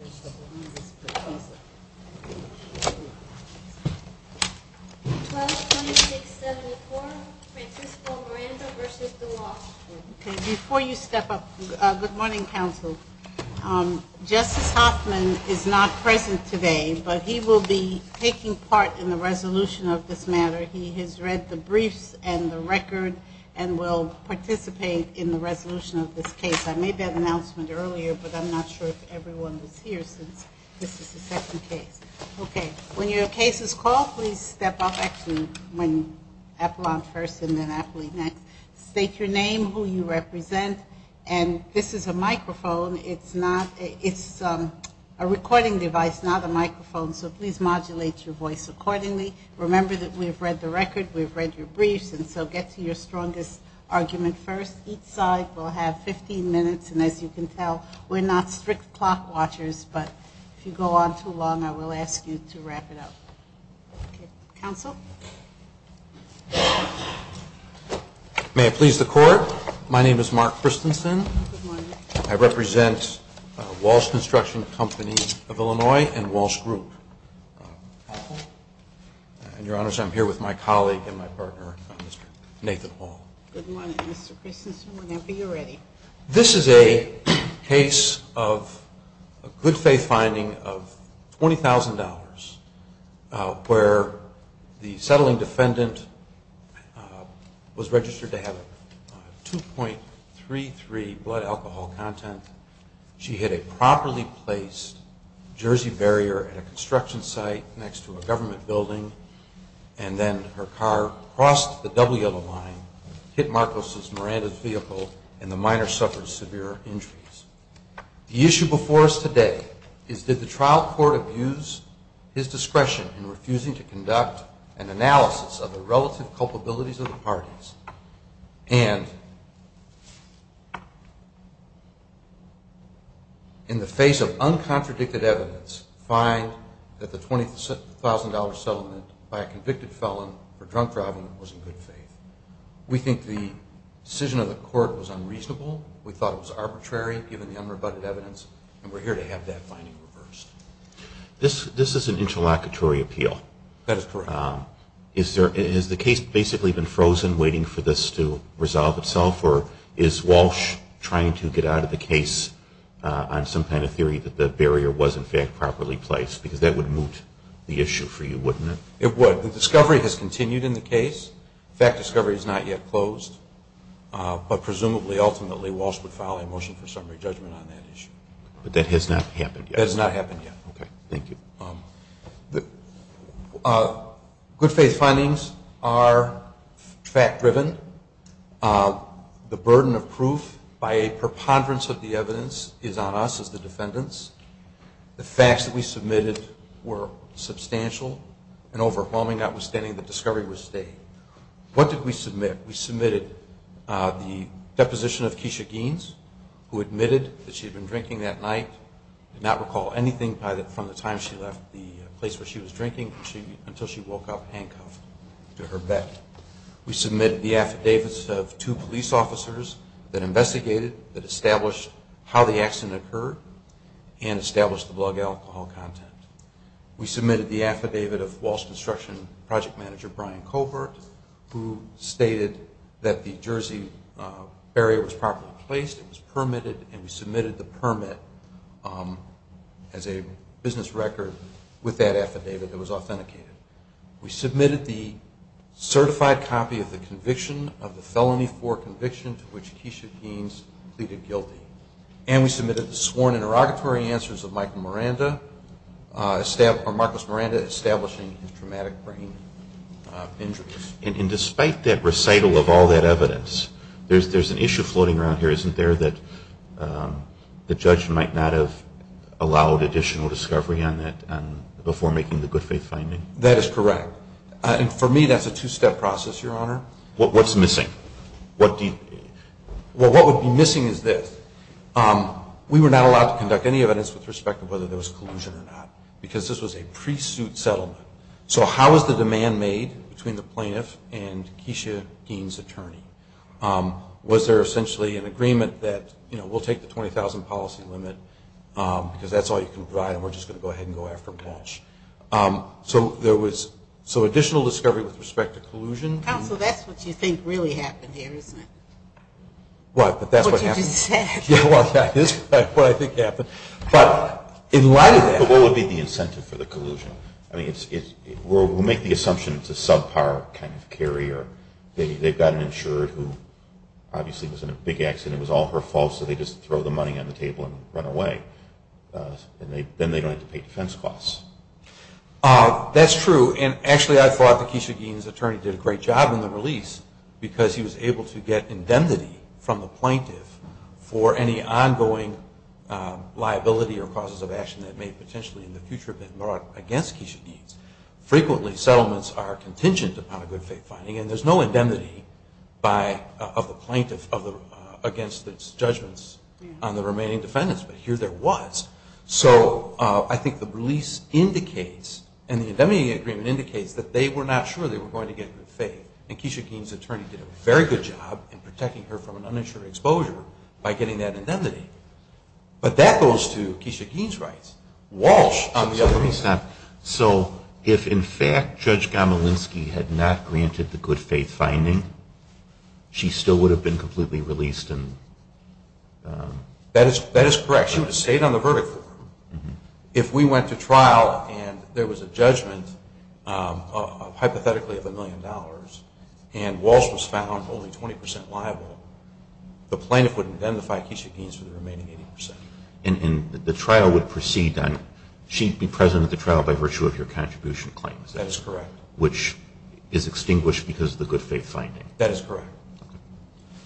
Good morning, Counsel. Justice Hoffman is not present today, but he will be taking part in the resolution of this matter. He has read the briefs and the record and will participate in the resolution of this case. I made that announcement earlier, but I'm not sure if everyone was here since this is the second case. Okay. When your case is called, please step up. Actually, when Appalachian first and then Appalachian next. State your name, who you represent, and this is a microphone. It's not a recording device, not a microphone, so please modulate your voice accordingly. Remember that we've read the record, we've read your briefs, and so get to your strongest argument first. Each side will have 15 minutes, and as you can tell, we're not strict clock watchers, but if you go on too long, I will ask you to wrap it up. Okay. Counsel? May I please the Court? My name is Mark Christensen. Good morning. I represent Walsh Construction Company of Illinois and Walsh Group. Counsel? And, Your Honors, I'm here with my colleague and my partner, Mr. Nathan Hall. Good morning, Mr. Christensen. Whenever you're ready. This is a case of a good faith finding of $20,000 where the settling defendant was registered to have 2.33 blood alcohol content. She hit a properly placed jersey barrier at a construction site next to a government building, and then her car crossed the double yellow line, hit Marcos's Miranda's vehicle, and the minor suffered severe injuries. The issue before us today is did the trial court abuse his discretion in refusing to conduct an analysis of the relative culpabilities of the parties, and in the face of uncontradicted evidence, find that the $20,000 settlement by a convicted felon for drunk driving was in good faith. We think the decision of the court was unreasonable. We thought it was arbitrary, given the unrebutted evidence, and we're here to have that finding reversed. This is an interlocutory appeal. That is correct. Has the case basically been frozen waiting for this to resolve itself, or is Walsh trying to get out of the case on some kind of theory that the barrier was, in fact, properly placed? Because that would for you, wouldn't it? It would. The discovery has continued in the case. The fact discovery is not yet closed. But presumably, ultimately, Walsh would file a motion for summary judgment on that issue. But that has not happened yet? That has not happened yet. Okay. Thank you. Good faith findings are fact-driven. The burden of proof by a preponderance of the evidence is on us as the defendants. The facts that we submitted were substantial and overwhelming, notwithstanding the discovery was stayed. What did we submit? We submitted the deposition of Keisha Geans, who admitted that she had been drinking that night, did not recall anything from the time she left the place where she was drinking until she woke up handcuffed to her bed. We submitted the affidavits of two police officers that investigated, that the accident occurred, and established the blood alcohol content. We submitted the affidavit of Walsh Construction Project Manager Brian Covert, who stated that the Jersey barrier was properly placed, it was permitted, and we submitted the permit as a business record with that affidavit that was authenticated. We submitted the certified copy of the conviction of the felony for conviction to which Keisha Geans pleaded guilty. And we submitted the sworn interrogatory answers of Michael Miranda, or Marcus Miranda, establishing his traumatic brain injuries. And despite that recital of all that evidence, there's an issue floating around here, isn't there, that the judge might not have allowed additional discovery on that before making the good faith finding? That is correct. And for me, that's a two-step process, Your Honor. What's missing? Well, what would be missing is this. We were not allowed to conduct any evidence with respect to whether there was collusion or not, because this was a pre-suit settlement. So how was the demand made between the plaintiff and Keisha Geans' attorney? Was there essentially an agreement that, you know, we'll take the 20,000 policy limit, because that's all you can provide, and we're just going to go ahead and go after cash. So there was, so additional discovery with respect to collusion. Counsel, that's what you think really happened here, isn't it? What? But that's what happened. What you just said. Yeah, well, that is what I think happened. But in light of that, what would be the incentive for the collusion? I mean, we'll make the assumption it's a subpar kind of carrier. They've got an insurer who obviously was in a big accident. It was all her fault, so they just throw the money on the table and run away. And then they don't have to pay defense costs. That's true, and actually I thought that Keisha Geans' attorney did a great job in the release, because he was able to get indemnity from the plaintiff for any ongoing liability or causes of action that may potentially in the future have been brought against Keisha Geans. Frequently settlements are contingent upon a good faith finding, and there's no indemnity of the plaintiff against its judgments on the remaining defendants, but here there was. So I think the release indicates, and the indemnity agreement indicates, that they were not sure they were going to get good faith. And Keisha Geans' attorney did a very good job in protecting her from an uninsured exposure by getting that indemnity. But that goes to Keisha Geans' rights. Walsh on the other hand. So if in fact Judge Gomelinsky had not granted the good faith finding, she still would have been completely released? That is correct. She would have stayed on the verdict for her. If we went to trial and there was a judgment, hypothetically of a million dollars, and Walsh was found only 20% liable, the plaintiff would indemnify Keisha Geans for the remaining 80%. And the trial would proceed on, she'd be present at the trial by virtue of your contribution claims? That is correct. Which is extinguished because of the good faith finding. That is correct.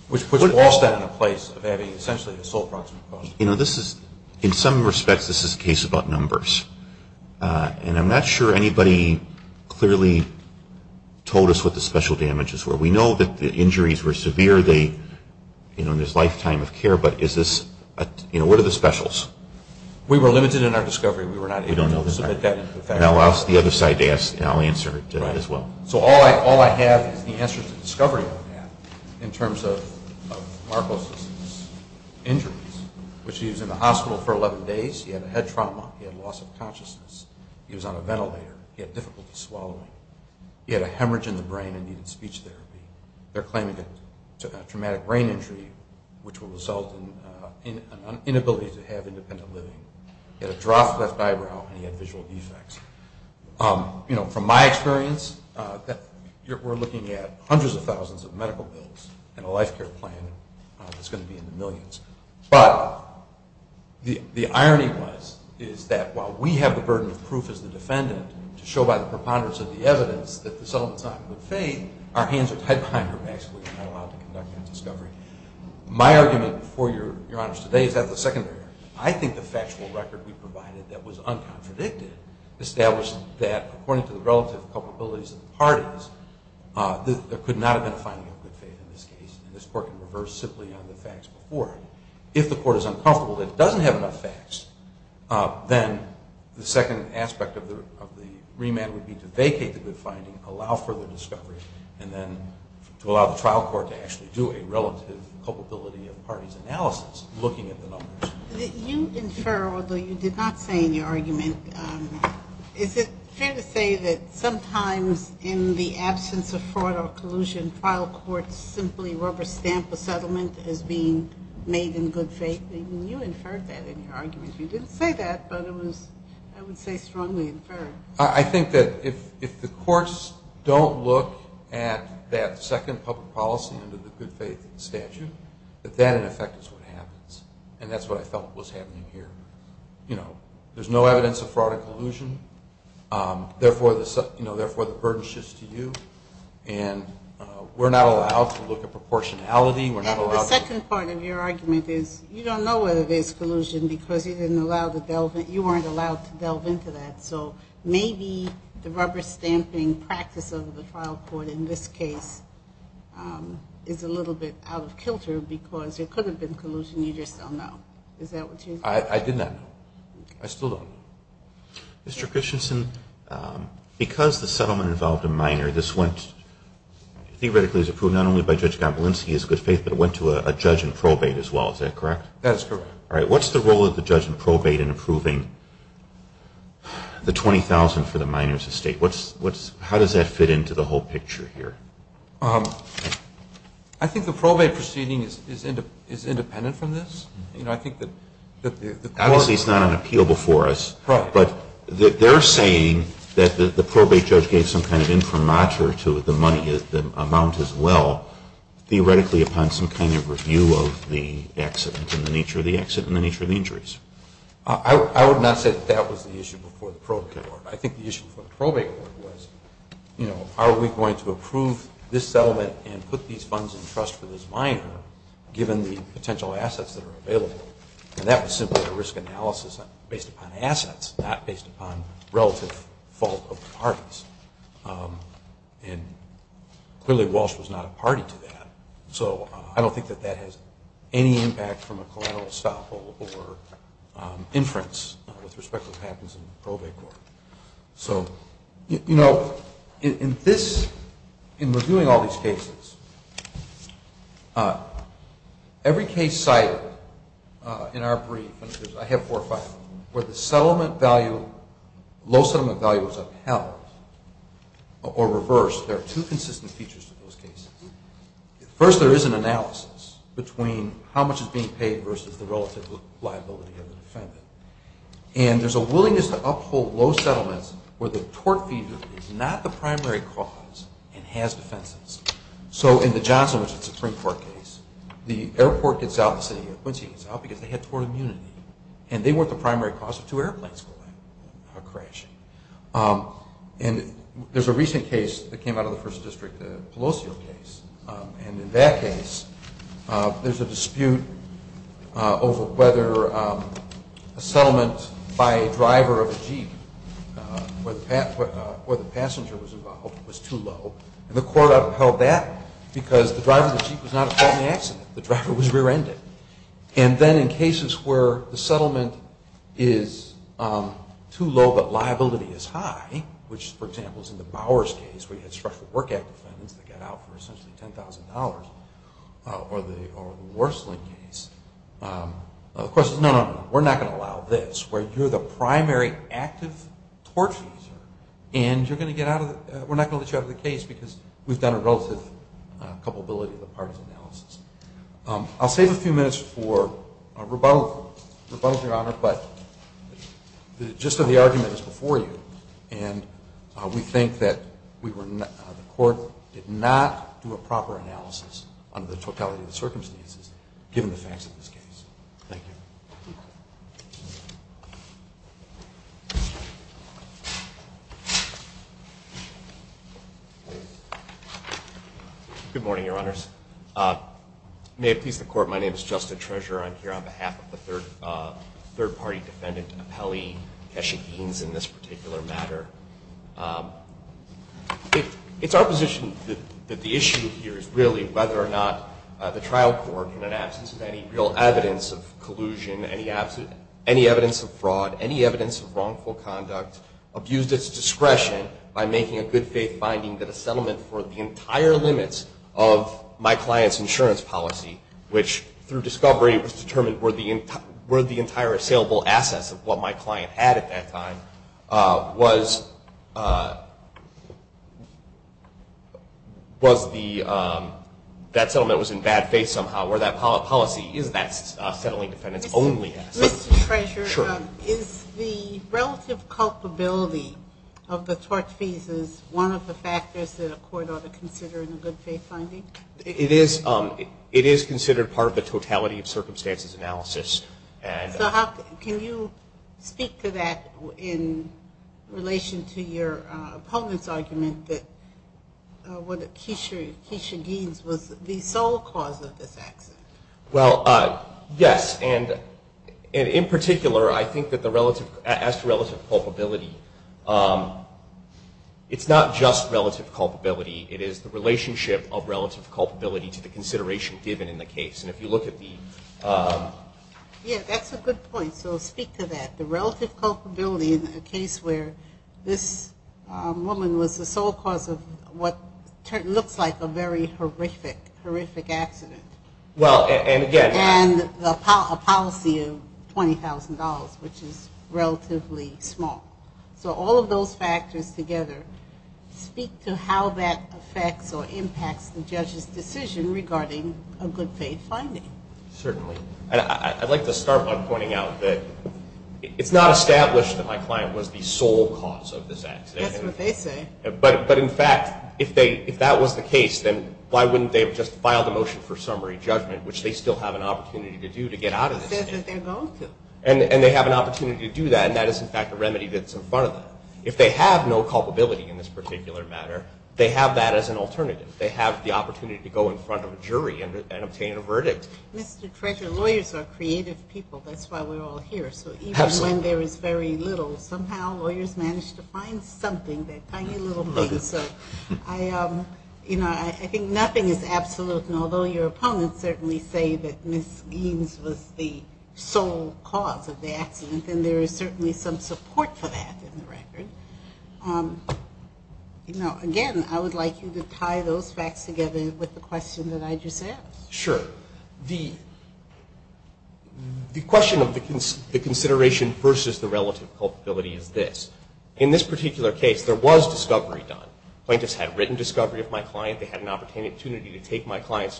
Which puts Walsh then in a place of having essentially the sole proximate cause. You know, this is, in some respects, this is a case about numbers. And I'm not sure anybody clearly told us what the special damages were. We know that the injuries were severe, they, you know, there's lifetime of care, but is this, you know, what are the specials? We were limited in our discovery. We were not able to submit that into the facts. Now I'll ask the other side to ask, and I'll answer it as well. So all I have is the answers to discovery on that, in terms of Marcos' injuries, which he was in the hospital for 11 days, he had a head trauma, he had loss of consciousness, he was on a ventilator, he had difficulty swallowing, he had a hemorrhage in the brain and needed speech therapy. They're claiming a traumatic brain injury, which will result in an inability to have independent living. He had a dropped left eyebrow and he had visual defects. You know, from my experience, we're looking at hundreds of thousands of medical bills and a life care plan that's going to be in the millions. But the irony was, is that while we have the burden of proof as the defendant to show by the preponderance of the evidence that the settlement's not in good faith, our hands are tied behind our backs if we're not allowed to conduct that discovery. My argument, before Your Honor's today, is that of the secondary. I think the factual record we provided that was uncontradicted established that, according to the relative culpabilities of the parties, there could not have been a finding of good faith in this case, and this Court can reverse simply on the facts before it. If the Court is uncomfortable that it doesn't have enough facts, then the second aspect of the remand would be to vacate the good finding, allow further discovery, and then to allow the trial court to actually do a relative culpability of parties analysis, looking at the numbers. You infer, although you did not say in your argument, is it fair to say that sometimes in the absence of fraud or collusion, trial courts simply rubber stamp a settlement as being made in good faith? You inferred that in your argument. You didn't say that, but it was, I would say, strongly inferred. I think that if the courts don't look at that second public policy under the good faith statute, that that, in effect, is what happens, and that's what I felt was happening here. You know, there's no evidence of fraud or collusion, therefore the burden shifts to you, and we're not allowed to look at proportionality. And the second part of your argument is, you don't know whether there's collusion because you weren't allowed to delve into that, so maybe the rubber stamping practice of the trial court in this case is a little bit out of kilter because there could have been collusion, you just don't know. Is that what you're saying? I did not know. I still don't. Mr. Christensen, because the settlement involved a minor, this went, theoretically it was approved not only by Judge Gombolinski as good faith, but it went to a judge in probate as well, is that correct? That's correct. All right, what's the role of the judge in probate in approving the $20,000 for the minor's estate? How does that fit into the whole picture here? I think the probate proceeding is independent from this. Obviously, it's not on appeal before us, but they're saying that the probate judge gave some kind of infirmature to the amount as well, theoretically upon some kind of the accident and the nature of the accident and the nature of the injuries. I would not say that that was the issue before the probate court. I think the issue before the probate court was, you know, are we going to approve this settlement and put these funds in trust for this minor given the potential assets that are available? And that was simply a risk analysis based upon assets, not based upon relative fault of the parties. And clearly Walsh was not a party to that. So I don't think that that has any impact from a collateral stop or inference with respect to what happens in the probate court. So, you know, in reviewing all these cases, every case cited in our brief, I have four or five, where the settlement value, low settlement value is upheld or reversed, there are two consistent features to those cases. First, there is an analysis between how much is being paid versus the relative liability of the defendant. And there's a willingness to uphold low settlements where the tort fee is not the primary cause and has defenses. So in the Johnson v. Supreme Court case, the airport gets out of the city of Quincy because they had tort immunity and they weren't the primary cause of two airplanes crashing. And there's a recent case that came out of the First District, the Pelosi case. And in that case, there's a dispute over whether a settlement by a driver of a jeep where the passenger was involved was too low. And the court upheld that because the driver of the jeep was not a fault in the accident. The driver was rear-ended. And then in cases where the settlement is too low but liability is high, which, for example, is in the Bowers case where you had special work act defendants that got out for essentially $10,000, or the Worsley case, the question is, no, no, no, we're not going to allow this, where you're the primary active tort fee user and you're going to get out of the, we're not going to let you out of the case because we've done a relative culpability of the parties analysis. I'll save a few minutes for rebuttal. Rebuttal, Your Honor, but the gist of the argument is before you. And we think that the court did not do a proper analysis under the totality of the circumstances, given the facts of this case. Thank you. Good morning, Your Honors. May it please the Court, my name is Justin Treasurer. I'm here on behalf of the third party defendant, Apelli Keshagin, in this particular matter. It's our position that the issue here is really whether or not the trial court, in an absence of any real evidence of collusion, any evidence of fraud, any evidence of wrongful conduct, abused its discretion by making a good faith finding that a settlement for the entire limits of my client's insurance policy, which through discovery was determined were the entire saleable assets of what my client had at that time, was the, that settlement was in bad faith somehow, where that policy is that settling defendant's only assets. Mr. Treasurer, is the relative culpability of the tort fees is one of the factors that a court ought to consider in a good faith finding? It is considered part of the totality of circumstances analysis. So how, can you speak to that in relation to your opponent's argument that what Keshagin's was the sole cause of this accident? Well, yes. And in particular, I think that the relative, as it's not just relative culpability, it is the relationship of relative culpability to the consideration given in the case. And if you look at the... Yeah, that's a good point. So speak to that. The relative culpability in a case where this woman was the sole cause of what looks like a very horrific, horrific accident. Well, and again... And a policy of $20,000, which is relatively small. So all of those factors together speak to how that affects or impacts the judge's decision regarding a good faith finding. Certainly. And I'd like to start by pointing out that it's not established that my client was the sole cause of this accident. That's what they say. But in fact, if that was the case, then why wouldn't they have just filed a motion for summary judgment, which they still have an opportunity to do to get out of this case? Says that they're going to. And they have an opportunity to do that, and that is, in fact, a remedy that's in front of them. If they have no culpability in this particular matter, they have that as an alternative. They have the opportunity to go in front of a jury and obtain a verdict. Mr. Treasure, lawyers are creative people. That's why we're all here. So even when there is very little, somehow lawyers manage to find something, that tiny little thing. So I think nothing is absolute. And although your opponents certainly say that Ms. Eames was the sole cause of the accident, then there is certainly some support for that in the record. Again, I would like you to tie those facts together with the question that I just asked. Sure. The question of the consideration versus the relative culpability is this. In this particular case, there was discovery done. Plaintiffs had written discovery of my client. They had an opportunity to take my client's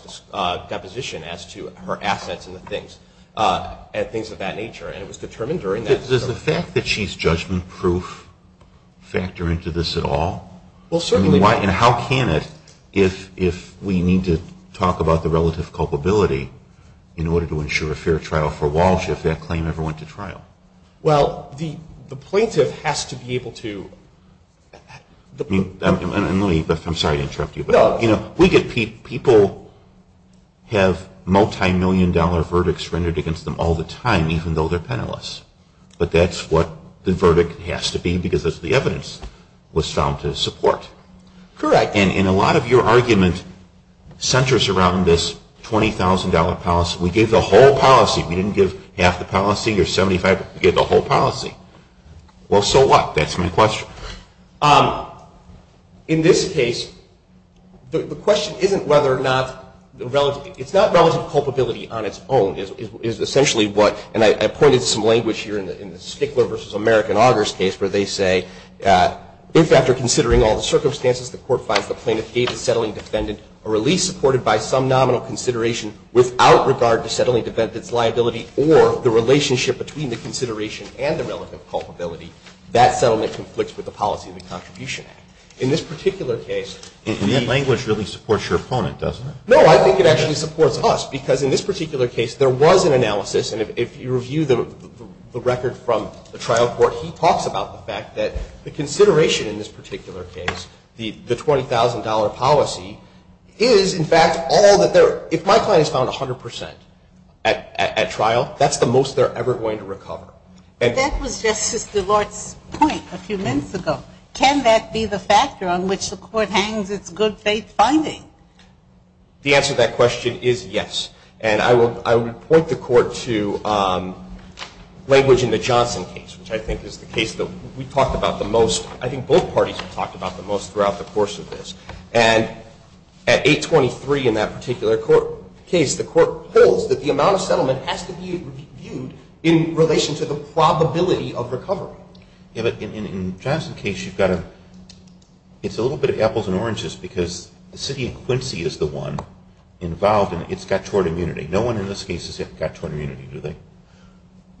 deposition as to her assets and the things of that nature. And it was determined during that discovery. Does the fact that she's judgment-proof factor into this at all? Well, certainly not. And how can it if we need to talk about the relative culpability in order to ensure a fair trial for Walsh if that claim ever went to trial? Well, the plaintiff has to be able to... I'm sorry to interrupt you, but people have multi-million dollar verdicts rendered against them all the time even though they're penalists. But that's what the verdict has to be because the evidence was found to support. Correct. And a lot of your argument centers around this $20,000 policy. We gave the whole policy. We didn't give half the policy or 75. We gave the whole policy. Well, so what? That's my question. In this case, the question isn't whether or not the relative... It's not relative culpability on its own. It is essentially what... And I pointed to some language here in the Stickler v. American Augers case where they say, if after considering all the circumstances, the court finds the plaintiff gave the settling defendant a release supported by some nominal consideration without regard to settling defendant's liability or the relationship between the consideration and the relative culpability, that settlement conflicts with the policy of the Contribution Act. In this particular case... And that language really supports your opponent, doesn't it? No, I think it actually supports us because in this particular case, there was an analysis and if you review the record from the trial court, he talks about the fact that the consideration in this particular case, the $20,000 policy, is in fact all that there... If my client is found 100% at trial, that's the most they're ever going to recover. That was Justice DeLort's point a few minutes ago. Can that be the factor on which the court hangs its good faith finding? The answer to that question is yes. And I would point the court to language in the Johnson case, which I think is the case that we talked about the most. I think both parties have talked about the most throughout the course of this. And at 823 in that particular case, the court holds that the amount of settlement has to be viewed in relation to the probability of recovery. Yeah, but in the Johnson case, you've got to... It's a little bit of apples and oranges because the city of Quincy is the one involved and it's got tort immunity. No one in this case has got tort immunity, do they?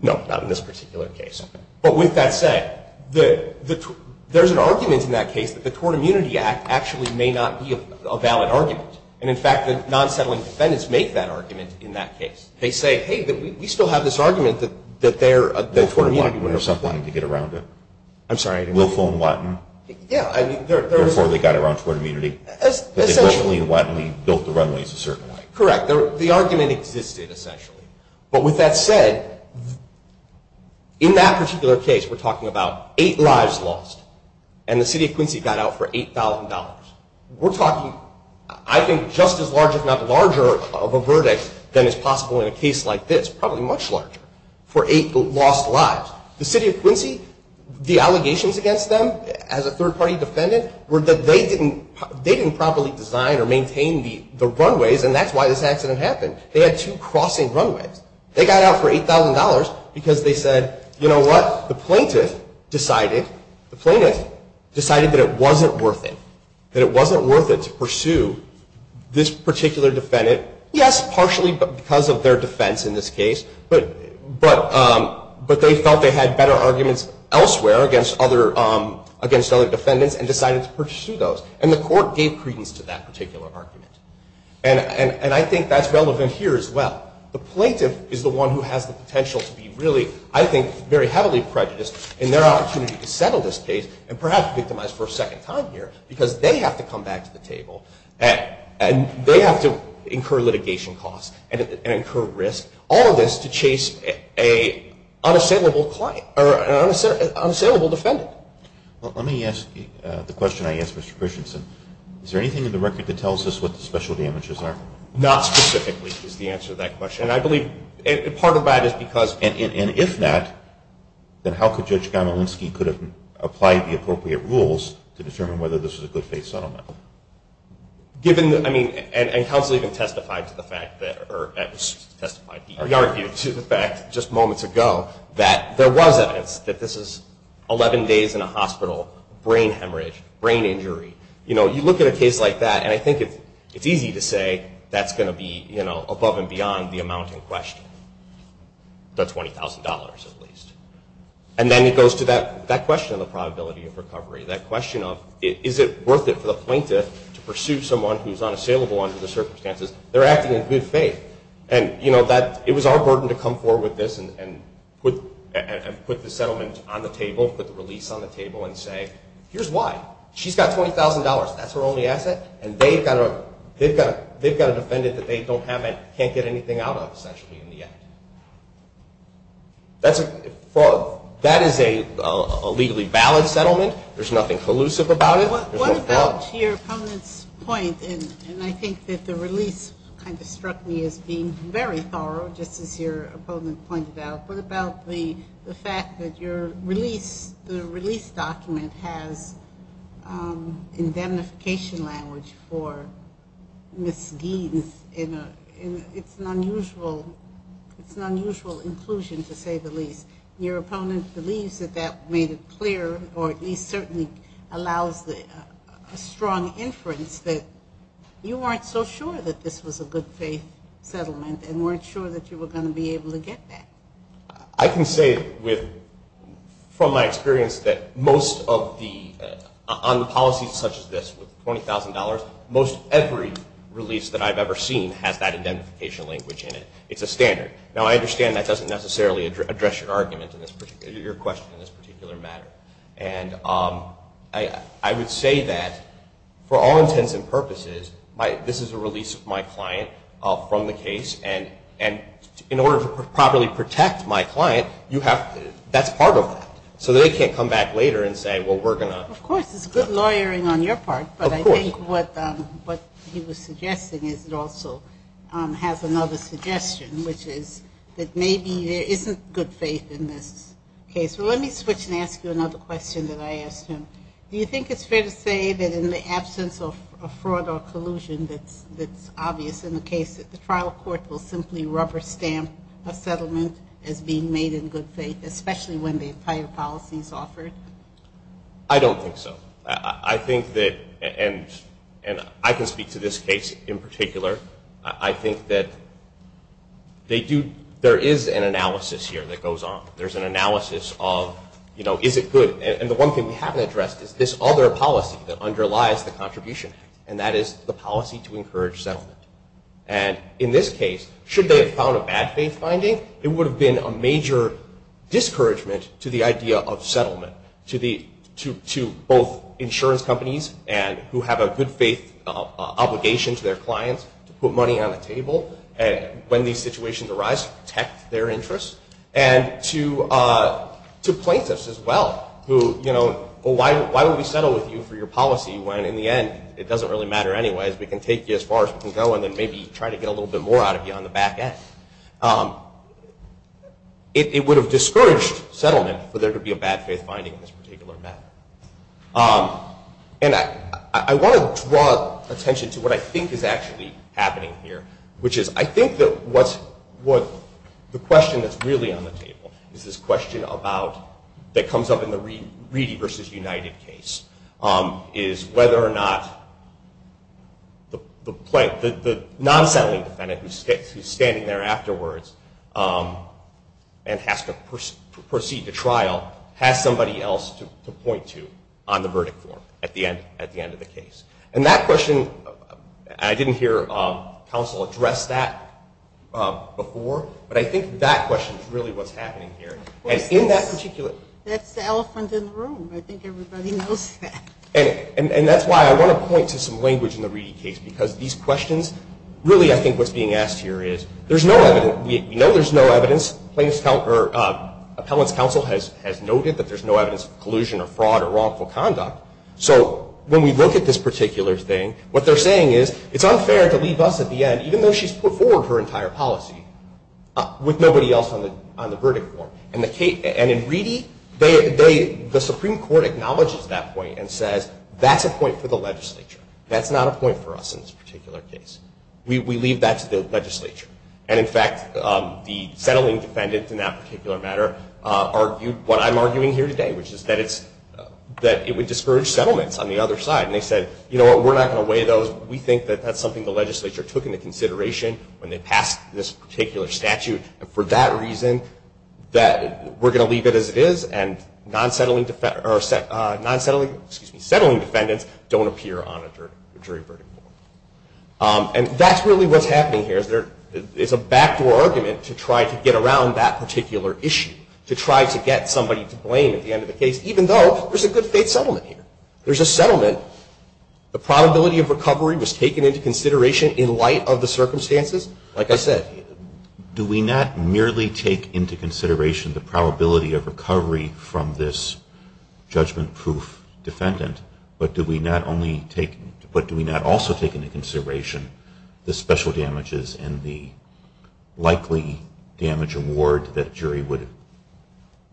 No, not in this particular case. But with that said, there's an argument in that case that the Tort Immunity Act actually may not be a valid argument. And, in fact, the non-settling defendants make that argument in that case. They say, hey, we still have this argument that they're... Will Fulham-Watton would have something to get around it. I'm sorry, I didn't... Will Fulham-Watton. Yeah, I mean... Before they got around tort immunity. Essentially. But they definitely and widely built the runways a certain way. Correct. The argument existed, essentially. But with that said, in that particular case, we're talking about eight lives lost and the city of Quincy got out for $8,000. We're talking, I think, just as large, if not larger, of a verdict than is possible in a case like this. Probably much larger. For eight lost lives. The city of Quincy, the allegations against them as a third-party defendant were that they didn't properly design or maintain the runways and that's why this accident happened. They had two crossing runways. They got out for $8,000 because they said, you know what? The plaintiff decided that it wasn't worth it. That it wasn't worth it to pursue this particular defendant. Yes, partially because of their defense in this case, but they felt they had better arguments elsewhere against other defendants and decided to pursue those. And the court gave credence to that particular argument. And I think that's relevant here as well. The plaintiff is the one who has the potential to be really, I think, very heavily prejudiced in their opportunity to settle this case and perhaps victimize for a second time here because they have to come back to the table and they have to incur litigation costs and incur risk. All of this to chase an unassailable defendant. Let me ask the question I asked Mr. Christensen. Is there anything in the record that tells us what the special damages are? Not specifically is the answer to that question. And I believe part of that is because... And if that, then how could Judge Gamowinski could have applied the appropriate rules to determine whether this was a good faith settlement? Given that, I mean, and counsel even testified to the fact that, or at least testified, argued to the fact just moments ago, that there was evidence that this is 11 days in a hospital, brain hemorrhage, brain injury. You know, you look at a case like that, and I think it's easy to say that's going to be, you know, above and beyond the amount in question, the $20,000 at least. And then it goes to that question of the probability of recovery, that question of is it worth it for the plaintiff to pursue someone who's unassailable under the circumstances? They're acting in good faith. And, you know, it was our burden to come forward with this and put the settlement on the table, put the release on the table, and say here's why. She's got $20,000. That's her only asset. And they've got a defendant that they don't have and can't get anything out of essentially in the end. That is a legally valid settlement. There's nothing collusive about it. What about your opponent's point, and I think that the release kind of struck me as being very thorough, just as your opponent pointed out. What about the fact that your release, the release document has indemnification language for Ms. Geeds, and it's an unusual inclusion to say the least. Your opponent believes that that made it clear, or at least certainly allows a strong inference that you weren't so sure that this was a good faith settlement and weren't sure that you were going to be able to get that. I can say from my experience that most of the policies such as this with $20,000, most every release that I've ever seen has that indemnification language in it. It's a standard. Now I understand that doesn't necessarily address your question in this particular matter. And I would say that for all intents and purposes, this is a release of my client from the case, and in order to properly protect my client, that's part of that. So they can't come back later and say, well, we're going to. Of course, it's good lawyering on your part, but I think what he was suggesting is it also has another suggestion, which is that maybe there isn't good faith in this case. Well, let me switch and ask you another question that I asked him. Do you think it's fair to say that in the absence of fraud or collusion that's obvious in the case that the trial court will simply rubber stamp a settlement as being made in good faith, especially when the entire policy is offered? I don't think so. I think that, and I can speak to this case in particular, I think that there is an analysis here that goes on. There's an analysis of, you know, is it good? And the one thing we haven't addressed is this other policy that underlies the Contribution Act, and that is the policy to encourage settlement. And in this case, should they have found a bad faith finding, it would have been a major discouragement to the idea of settlement to both insurance companies who have a good faith obligation to their clients to put money on the table when these situations arise to protect their interests and to plaintiffs as well who, you know, well, why would we settle with you for your policy when in the end it doesn't really matter anyways. We can take you as far as we can go and then maybe try to get a little bit more out of you on the back end. It would have discouraged settlement for there to be a bad faith finding in this particular matter. And I want to draw attention to what I think is actually happening here, which is I think that the question that's really on the table is this question that comes up in the Reedy v. United case, is whether or not the non-settling defendant who's standing there afterwards and has to proceed to trial has somebody else to point to on the verdict form at the end of the case. And that question, I didn't hear counsel address that before, but I think that question is really what's happening here. That's the elephant in the room. I think everybody knows that. And that's why I want to point to some language in the Reedy case because these questions, really I think what's being asked here is there's no evidence. We know there's no evidence. Appellant's counsel has noted that there's no evidence of collusion or fraud or wrongful conduct. So when we look at this particular thing, what they're saying is it's unfair to leave us at the end, even though she's put forward her entire policy, with nobody else on the verdict form. And in Reedy, the Supreme Court acknowledges that point and says that's a point for the legislature. That's not a point for us in this particular case. We leave that to the legislature. And, in fact, the settling defendant in that particular matter argued what I'm arguing here today, which is that it would discourage settlements on the other side. And they said, you know what, we're not going to weigh those. We think that that's something the legislature took into consideration when they passed this particular statute, and for that reason we're going to leave it as it is and non-settling defendants don't appear on a jury verdict form. And that's really what's happening here. It's a backdoor argument to try to get around that particular issue, to try to get somebody to blame at the end of the case, even though there's a good-faith settlement here. There's a settlement. The probability of recovery was taken into consideration in light of the circumstances, like I said. Do we not merely take into consideration the probability of recovery from this judgment-proof defendant, but do we not also take into consideration the special damages and the likely damage award that a jury would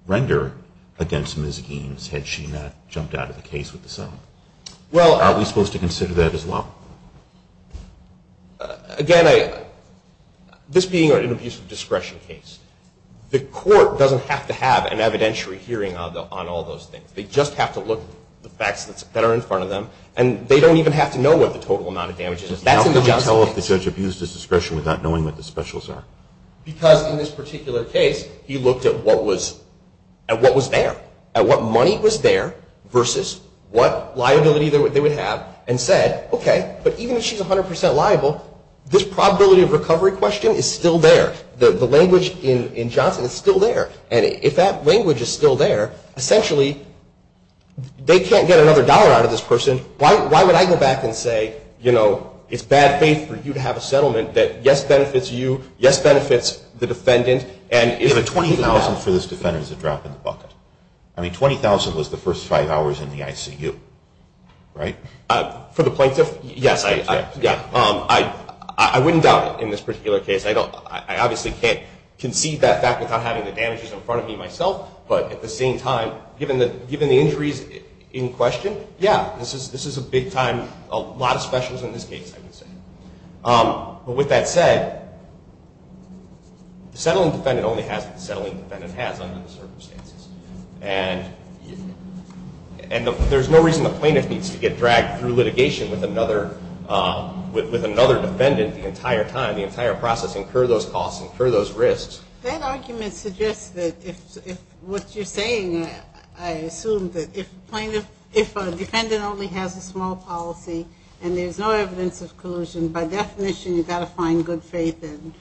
render against Ms. Gaines had she not jumped out of the case with the settlement? Are we supposed to consider that as well? Again, this being an abuse of discretion case, the court doesn't have to have an evidentiary hearing on all those things. They just have to look at the facts that are in front of them, and they don't even have to know what the total amount of damage is. How can you tell if the judge abused his discretion without knowing what the specials are? Because in this particular case, he looked at what was there, at what money was there versus what liability they would have, and said, okay, but even if she's 100 percent liable, this probability of recovery question is still there. The language in Johnson is still there, and if that language is still there, essentially they can't get another dollar out of this person. Why would I go back and say, you know, it's bad faith for you to have a settlement that, yes, benefits you, yes, benefits the defendant. You have a $20,000 for this defendant as a drop in the bucket. I mean, $20,000 was the first five hours in the ICU, right? For the plaintiff, yes. I wouldn't doubt it in this particular case. I obviously can't concede that fact without having the damages in front of me myself, but at the same time, given the injuries in question, yeah, this is a big time, a lot of specials in this case, I would say. But with that said, the settling defendant only has what the settling defendant has under the circumstances, and there's no reason the plaintiff needs to get dragged through litigation with another defendant the entire time, the entire process, incur those costs, incur those risks. That argument suggests that if what you're saying, I assume, that if a defendant only has a small policy and there's no evidence of collusion, by definition you've got to find good faith and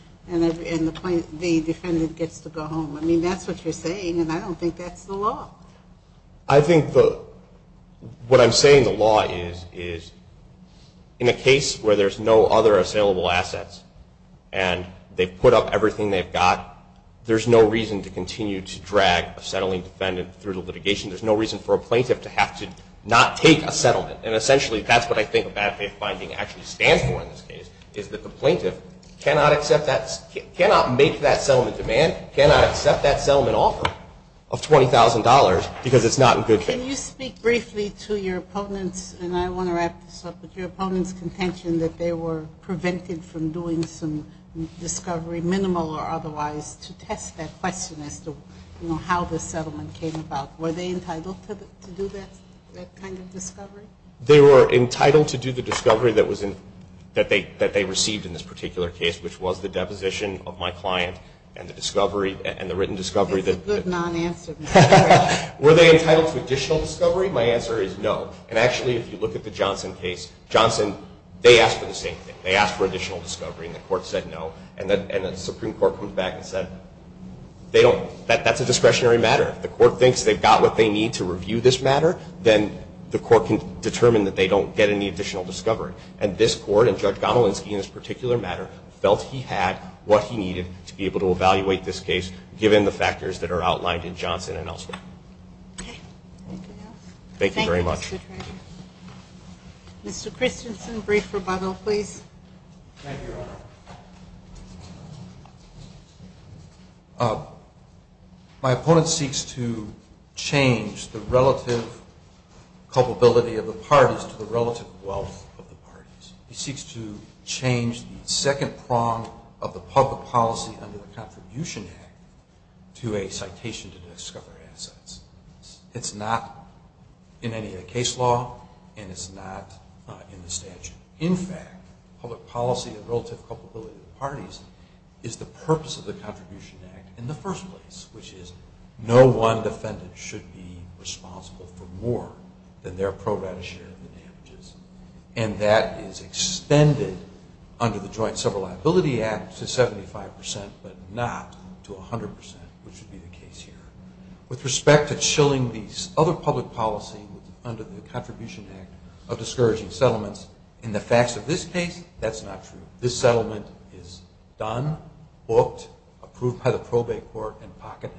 the defendant gets to go home. I mean, that's what you're saying, and I don't think that's the law. I think what I'm saying the law is in a case where there's no other assailable assets and they've put up everything they've got, there's no reason to continue to drag a settling defendant through litigation. There's no reason for a plaintiff to have to not take a settlement, and essentially that's what I think a bad faith finding actually stands for in this case, is that the plaintiff cannot make that settlement demand, cannot accept that settlement offer of $20,000 because it's not in good faith. Can you speak briefly to your opponent's, and I want to wrap this up, but your opponent's contention that they were prevented from doing some discovery, minimal or otherwise, to test that question as to how the settlement came about. Were they entitled to do that kind of discovery? They were entitled to do the discovery that they received in this particular case, which was the deposition of my client and the discovery, and the written discovery. That's a good non-answer. Were they entitled to additional discovery? My answer is no. And actually, if you look at the Johnson case, Johnson, they asked for the same thing. They asked for additional discovery, and the court said no, and the Supreme Court comes back and said, that's a discretionary matter. If the court thinks they've got what they need to review this matter, then the court can determine that they don't get any additional discovery. And this court, and Judge Gomolinsky in this particular matter, felt he had what he needed to be able to evaluate this case, given the factors that are outlined in Johnson and elsewhere. Okay. Anything else? Thank you very much. Thank you, Mr. Traynor. Mr. Christensen, brief rebuttal, please. Thank you, Your Honor. My opponent seeks to change the relative culpability of the parties to the relative wealth of the parties. He seeks to change the second prong of the public policy under the Contribution Act to a citation to discover assets. It's not in any of the case law, and it's not in the statute. In fact, public policy and relative culpability of the parties is the purpose of the Contribution Act in the first place, which is no one defendant should be responsible for more than their pro rata share of the damages. And that is extended under the Joint Several Liability Act to 75%, but not to 100%, which would be the case here. With respect to chilling the other public policy under the Contribution Act of discouraging settlements, in the facts of this case, that's not true. This settlement is done, booked, approved by the probate court, and pocketed.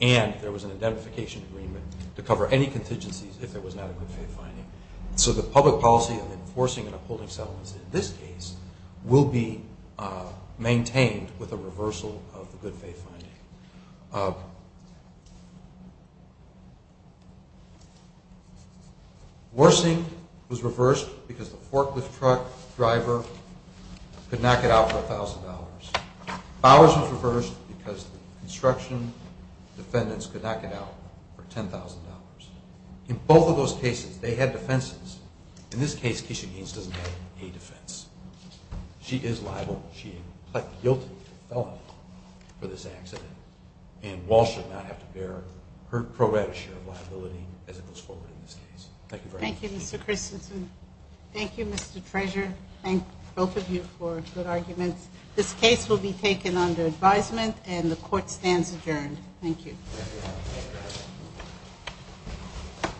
And there was an identification agreement to cover any contingencies if there was not a good faith finding. So the public policy of enforcing and upholding settlements in this case will be maintained with a reversal of the good faith finding. Worsing was reversed because the forklift truck driver could not get out for $1,000. Bowers was reversed because the construction defendants could not get out for $10,000. In both of those cases, they had defenses. In this case, Keisha Gaines doesn't have any defense. She is liable. She pled guilty to felony for this accident, and Wall should not have to bear her pro rata share of liability as it goes forward in this case. Thank you very much. Thank you, Mr. Christensen. Thank you, Mr. Treasurer. Thank both of you for good arguments. This case will be taken under advisement, and the court stands adjourned. Thank you.